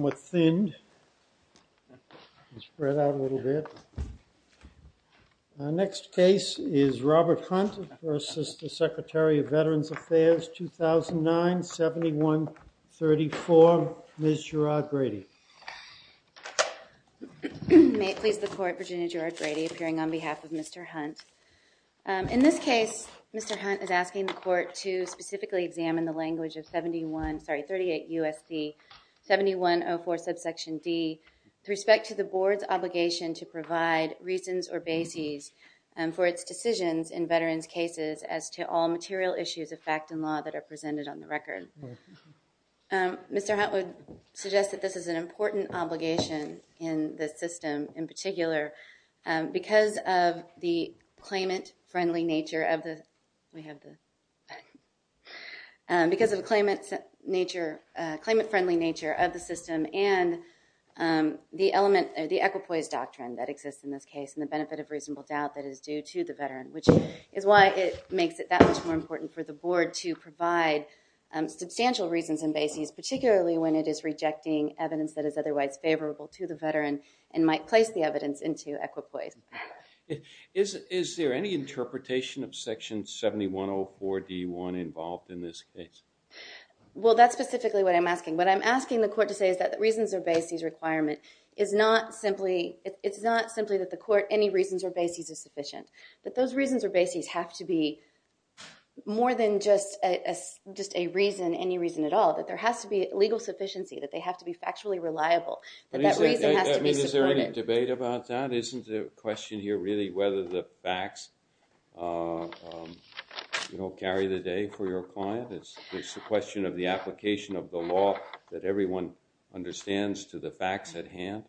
with thin spread out a little bit. Our next case is Robert Hunt versus the Secretary of Veterans Affairs, 2009, 7134, Ms. Gerard-Grady. May it please the court, Virginia Gerard-Grady appearing on behalf of Mr. Hunt. In this case, Mr. Hunt is asking the court to specifically examine the language of 71, I'm sorry, 38 U.S.C. 7104 subsection D with respect to the board's obligation to provide reasons or bases for its decisions in veterans' cases as to all material issues of fact and law that are presented on the record. Mr. Hunt would suggest that this is an important obligation in the system in particular because of the claimant-friendly nature of the, we have the, because of the claimant's nature, claimant-friendly nature of the system and the element, the equipoise doctrine that exists in this case and the benefit of reasonable doubt that is due to the veteran which is why it makes it that much more important for the board to provide substantial reasons and bases particularly when it is rejecting evidence that is otherwise favorable to the veteran and might place the evidence into equipoise. Is there any interpretation of section 7104 D1 involved in this case? Well, that's specifically what I'm asking. What I'm asking the court to say is that the reasons or bases requirement is not simply, it's not simply that the court, any reasons or bases are sufficient, that those reasons or bases have to be more than just a reason, any reason at all, that there has to be legal sufficiency, that they have to be factually reliable, that that reason has to be supported. I mean, is there any debate about that? Isn't the question here really whether the facts, you know, carry the day for your client? It's a question of the application of the law that everyone understands to the facts at hand?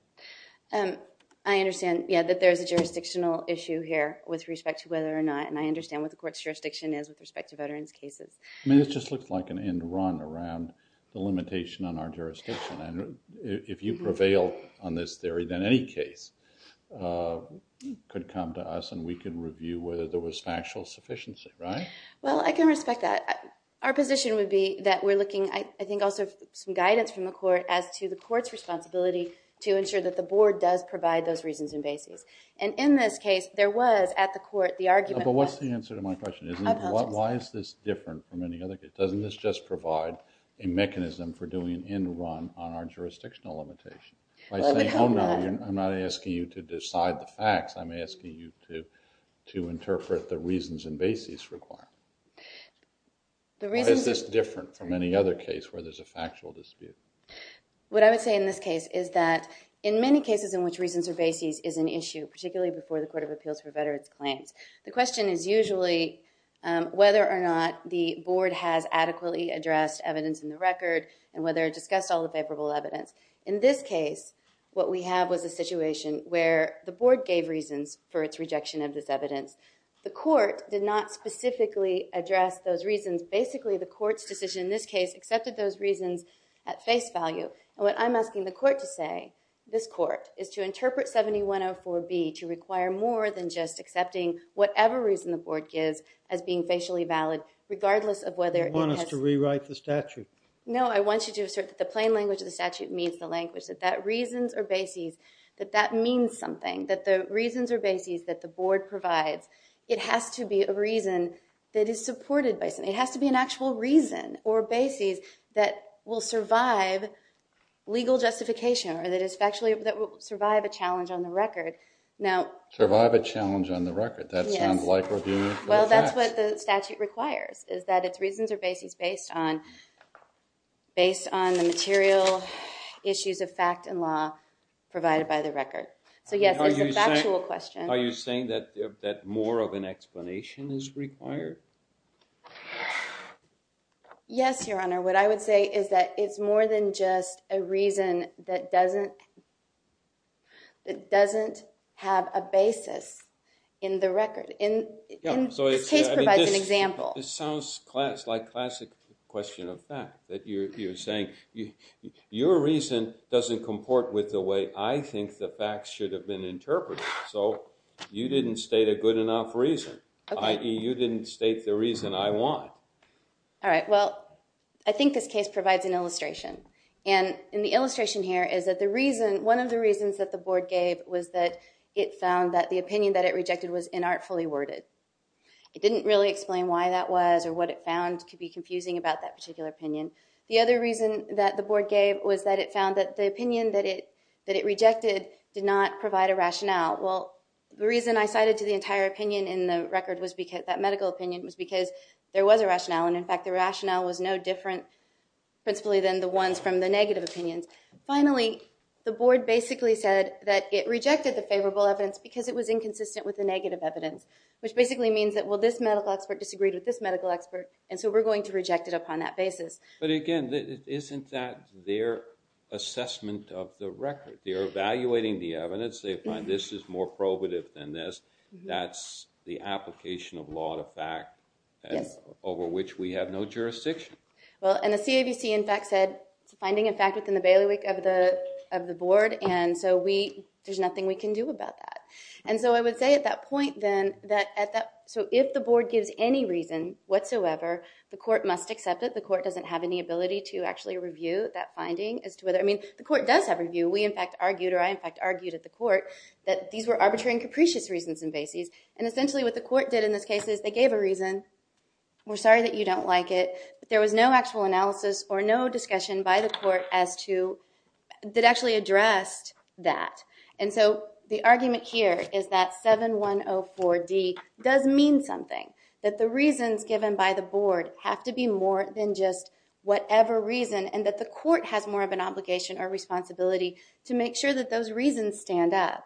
I understand, yeah, that there's a jurisdictional issue here with respect to whether or not and I understand what the court's jurisdiction is with respect to veterans' cases. I mean, it just looks like an end run around the limitation on our jurisdiction. And if you prevail on this theory, then any case could come to us and we could review whether there was factual sufficiency, right? Well, I can respect that. Our position would be that we're looking, I think, also for some guidance from the court as to the court's responsibility to ensure that the board does provide those reasons and bases. And in this case, there was at the court the argument. But what's the answer to my question? Why is this different from any other case? Doesn't this just provide a mechanism for doing an end run on our jurisdictional limitation? By saying, oh no, I'm not asking you to decide the facts. I'm asking you to interpret the reasons and bases required. Why is this different from any other case where there's a factual dispute? What I would say in this case is that in many cases in which reasons or bases is an issue, particularly before the Court of Appeals for Veterans' Claims, the question is usually whether or not the board has adequately addressed evidence in the record and whether it discussed all the favorable evidence. In this case, what we have was a situation where the board gave reasons for its rejection of this evidence. The court did not specifically address those reasons. Basically, the court's decision in this case accepted those reasons at face value. And what I'm asking the court to say, this court, is to interpret 7104B to require more than just accepting whatever reason the board gives as being facially valid, regardless of whether it has... You want us to rewrite the statute? No, I want you to assert that the plain language of the statute meets the language, that that reasons or bases, that that means something, that the reasons or bases that the board provides, it has to be a reason that is supported by something. It has to be an actual reason or bases that will survive legal justification or that will survive a challenge on the record. Survive a challenge on the record? That sounds like reviewing facts. Well, that's what the statute requires, is that its reasons or bases based on the material issues of fact and law provided by the record. So yes, it's a factual question. Are you saying that more of an explanation is required? Yes, Your Honor. What I would say is that it's more than just a reason that doesn't have a basis in the record. This case provides an example. This sounds like classic question of fact, that you're saying, your reason doesn't comport with the way I think the facts should have been interpreted. So you didn't state a good enough reason, i.e. you didn't state the reason I want. All right, well, I think this case provides an illustration. And the illustration here is that one of the reasons that the board gave was that it found that the opinion that it rejected was inartfully worded. It didn't really explain why that was or what it found to be confusing about that particular opinion. The other reason that the board gave was that it found that the opinion that it rejected did not provide a rationale. Well, the reason I cited to the entire opinion in the record, that medical opinion, was because there was a rationale. And in fact, the rationale was no different, principally, than the ones from the negative opinions. Finally, the board basically said that it rejected the favorable evidence because it was inconsistent with the negative evidence. Which basically means that, well, this medical expert disagreed with this medical expert, and so we're going to reject it upon that basis. But again, isn't that their assessment of the record? They're evaluating the evidence. They find this is more probative than this. That's the application of law to fact over which we have no jurisdiction. Well, and the CAVC, in fact, said it's a finding, in fact, within the bailiwick of the board, and so there's nothing we can do about that. And so I would say at that point, then, that if the board gives any reason whatsoever, the court must accept it. The court doesn't have any ability to actually review that finding. I mean, the court does have review. We, in fact, argued, or I, in fact, argued at the court, that these were arbitrary and capricious reasons and bases, and essentially what the court did in this case is they gave a reason. We're sorry that you don't like it, but there was no actual analysis or no discussion by the court that actually addressed that. And so the argument here is that 7104D does mean something, that the reasons given by the board have to be more than just whatever reason, and that the court has more of an obligation or responsibility to make sure that those reasons stand up.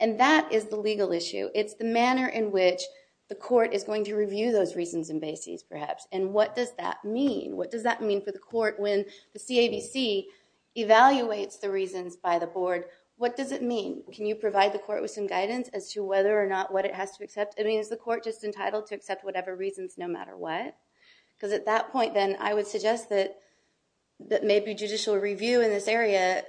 And that is the legal issue. It's the manner in which the court is going to review those reasons and bases, perhaps. And what does that mean? What does that mean for the court when the CAVC evaluates the reasons by the board? What does it mean? Can you provide the court with some guidance as to whether or not what it has to accept? I mean, is the court just entitled to accept whatever reasons no matter what? Because at that point, then, I would suggest that maybe judicial review in this area,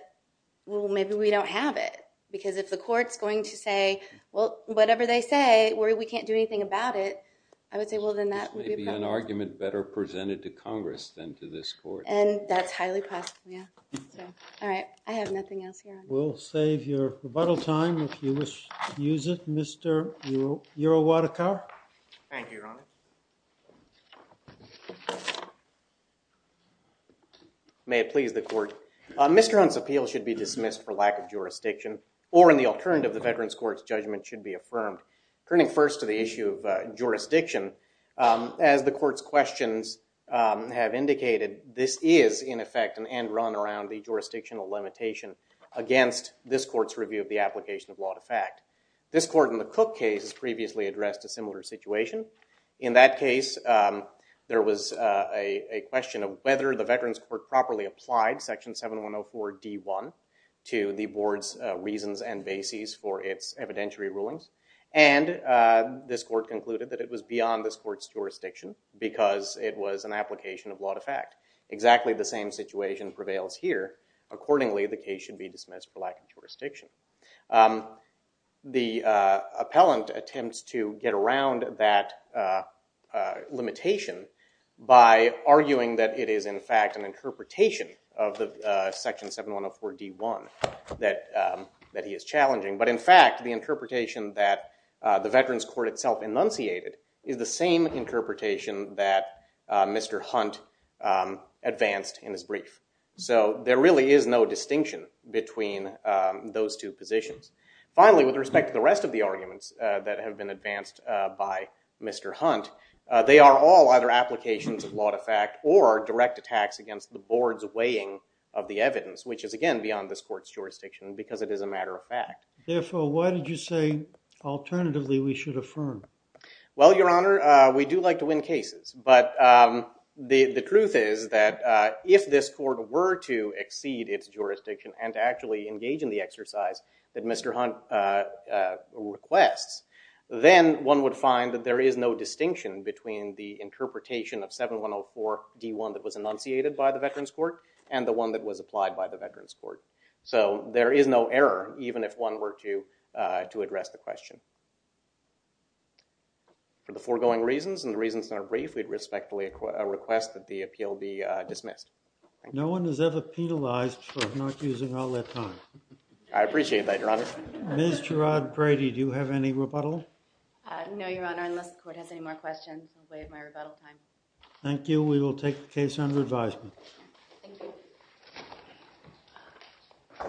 well, maybe we don't have it. Because if the court's going to say, well, whatever they say, we can't do anything about it, I would say, well, then that would be a problem. This may be an argument better presented to Congress than to this court. And that's highly possible, yeah. All right. I have nothing else here. We'll save your rebuttal time if you wish to use it. Mr. Yerowatakar? Thank you, Your Honor. May it please the court. Mr. Hunt's appeal should be dismissed for lack of jurisdiction or in the occurrence of the Veterans Court's judgment should be affirmed. Turning first to the issue of jurisdiction, as the court's questions have indicated, this is, in effect, an end run around the jurisdictional limitation against this court's review of the application of law to fact. This court, in the Cook case, has previously addressed a similar situation. In that case, there was a question of whether the Veterans Court properly applied section 7104 D1 to the board's reasons and bases for its evidentiary rulings. And this court concluded that it was beyond this court's jurisdiction because it was an application of law to fact. Exactly the same situation prevails here. Accordingly, the case should be dismissed for lack of jurisdiction. The appellant attempts to get around that limitation by arguing that it is, in fact, an interpretation of the section 7104 D1 that he is challenging. But in fact, the interpretation that the Veterans Court itself enunciated is the same interpretation that Mr. Hunt advanced in his brief. So there really is no distinction between those two positions. Finally, with respect to the rest of the arguments that have been advanced by Mr. Hunt, they are all either applications of law to fact or direct attacks against the board's weighing of the evidence, which is, again, beyond this court's jurisdiction because it is a matter of fact. Therefore, why did you say, alternatively, we should affirm? Well, Your Honor, we do like to win cases. But the truth is that if this court were to exceed its jurisdiction and to actually engage in the exercise that Mr. Hunt requests, then one would find that there is no distinction between the interpretation of 7104 D1 that was enunciated by the Veterans Court and the one that was applied by the Veterans Court. So there is no error, even if one were to address the question. For the foregoing reasons and the reasons in our brief, we'd respectfully request that the appeal be dismissed. Thank you. No one is ever penalized for not using all their time. I appreciate that, Your Honor. Ms. Gerard-Brady, do you have any rebuttal? No, Your Honor, unless the court has any more questions, I'll waive my rebuttal time. Thank you. We will take the case under advisement. Thank you.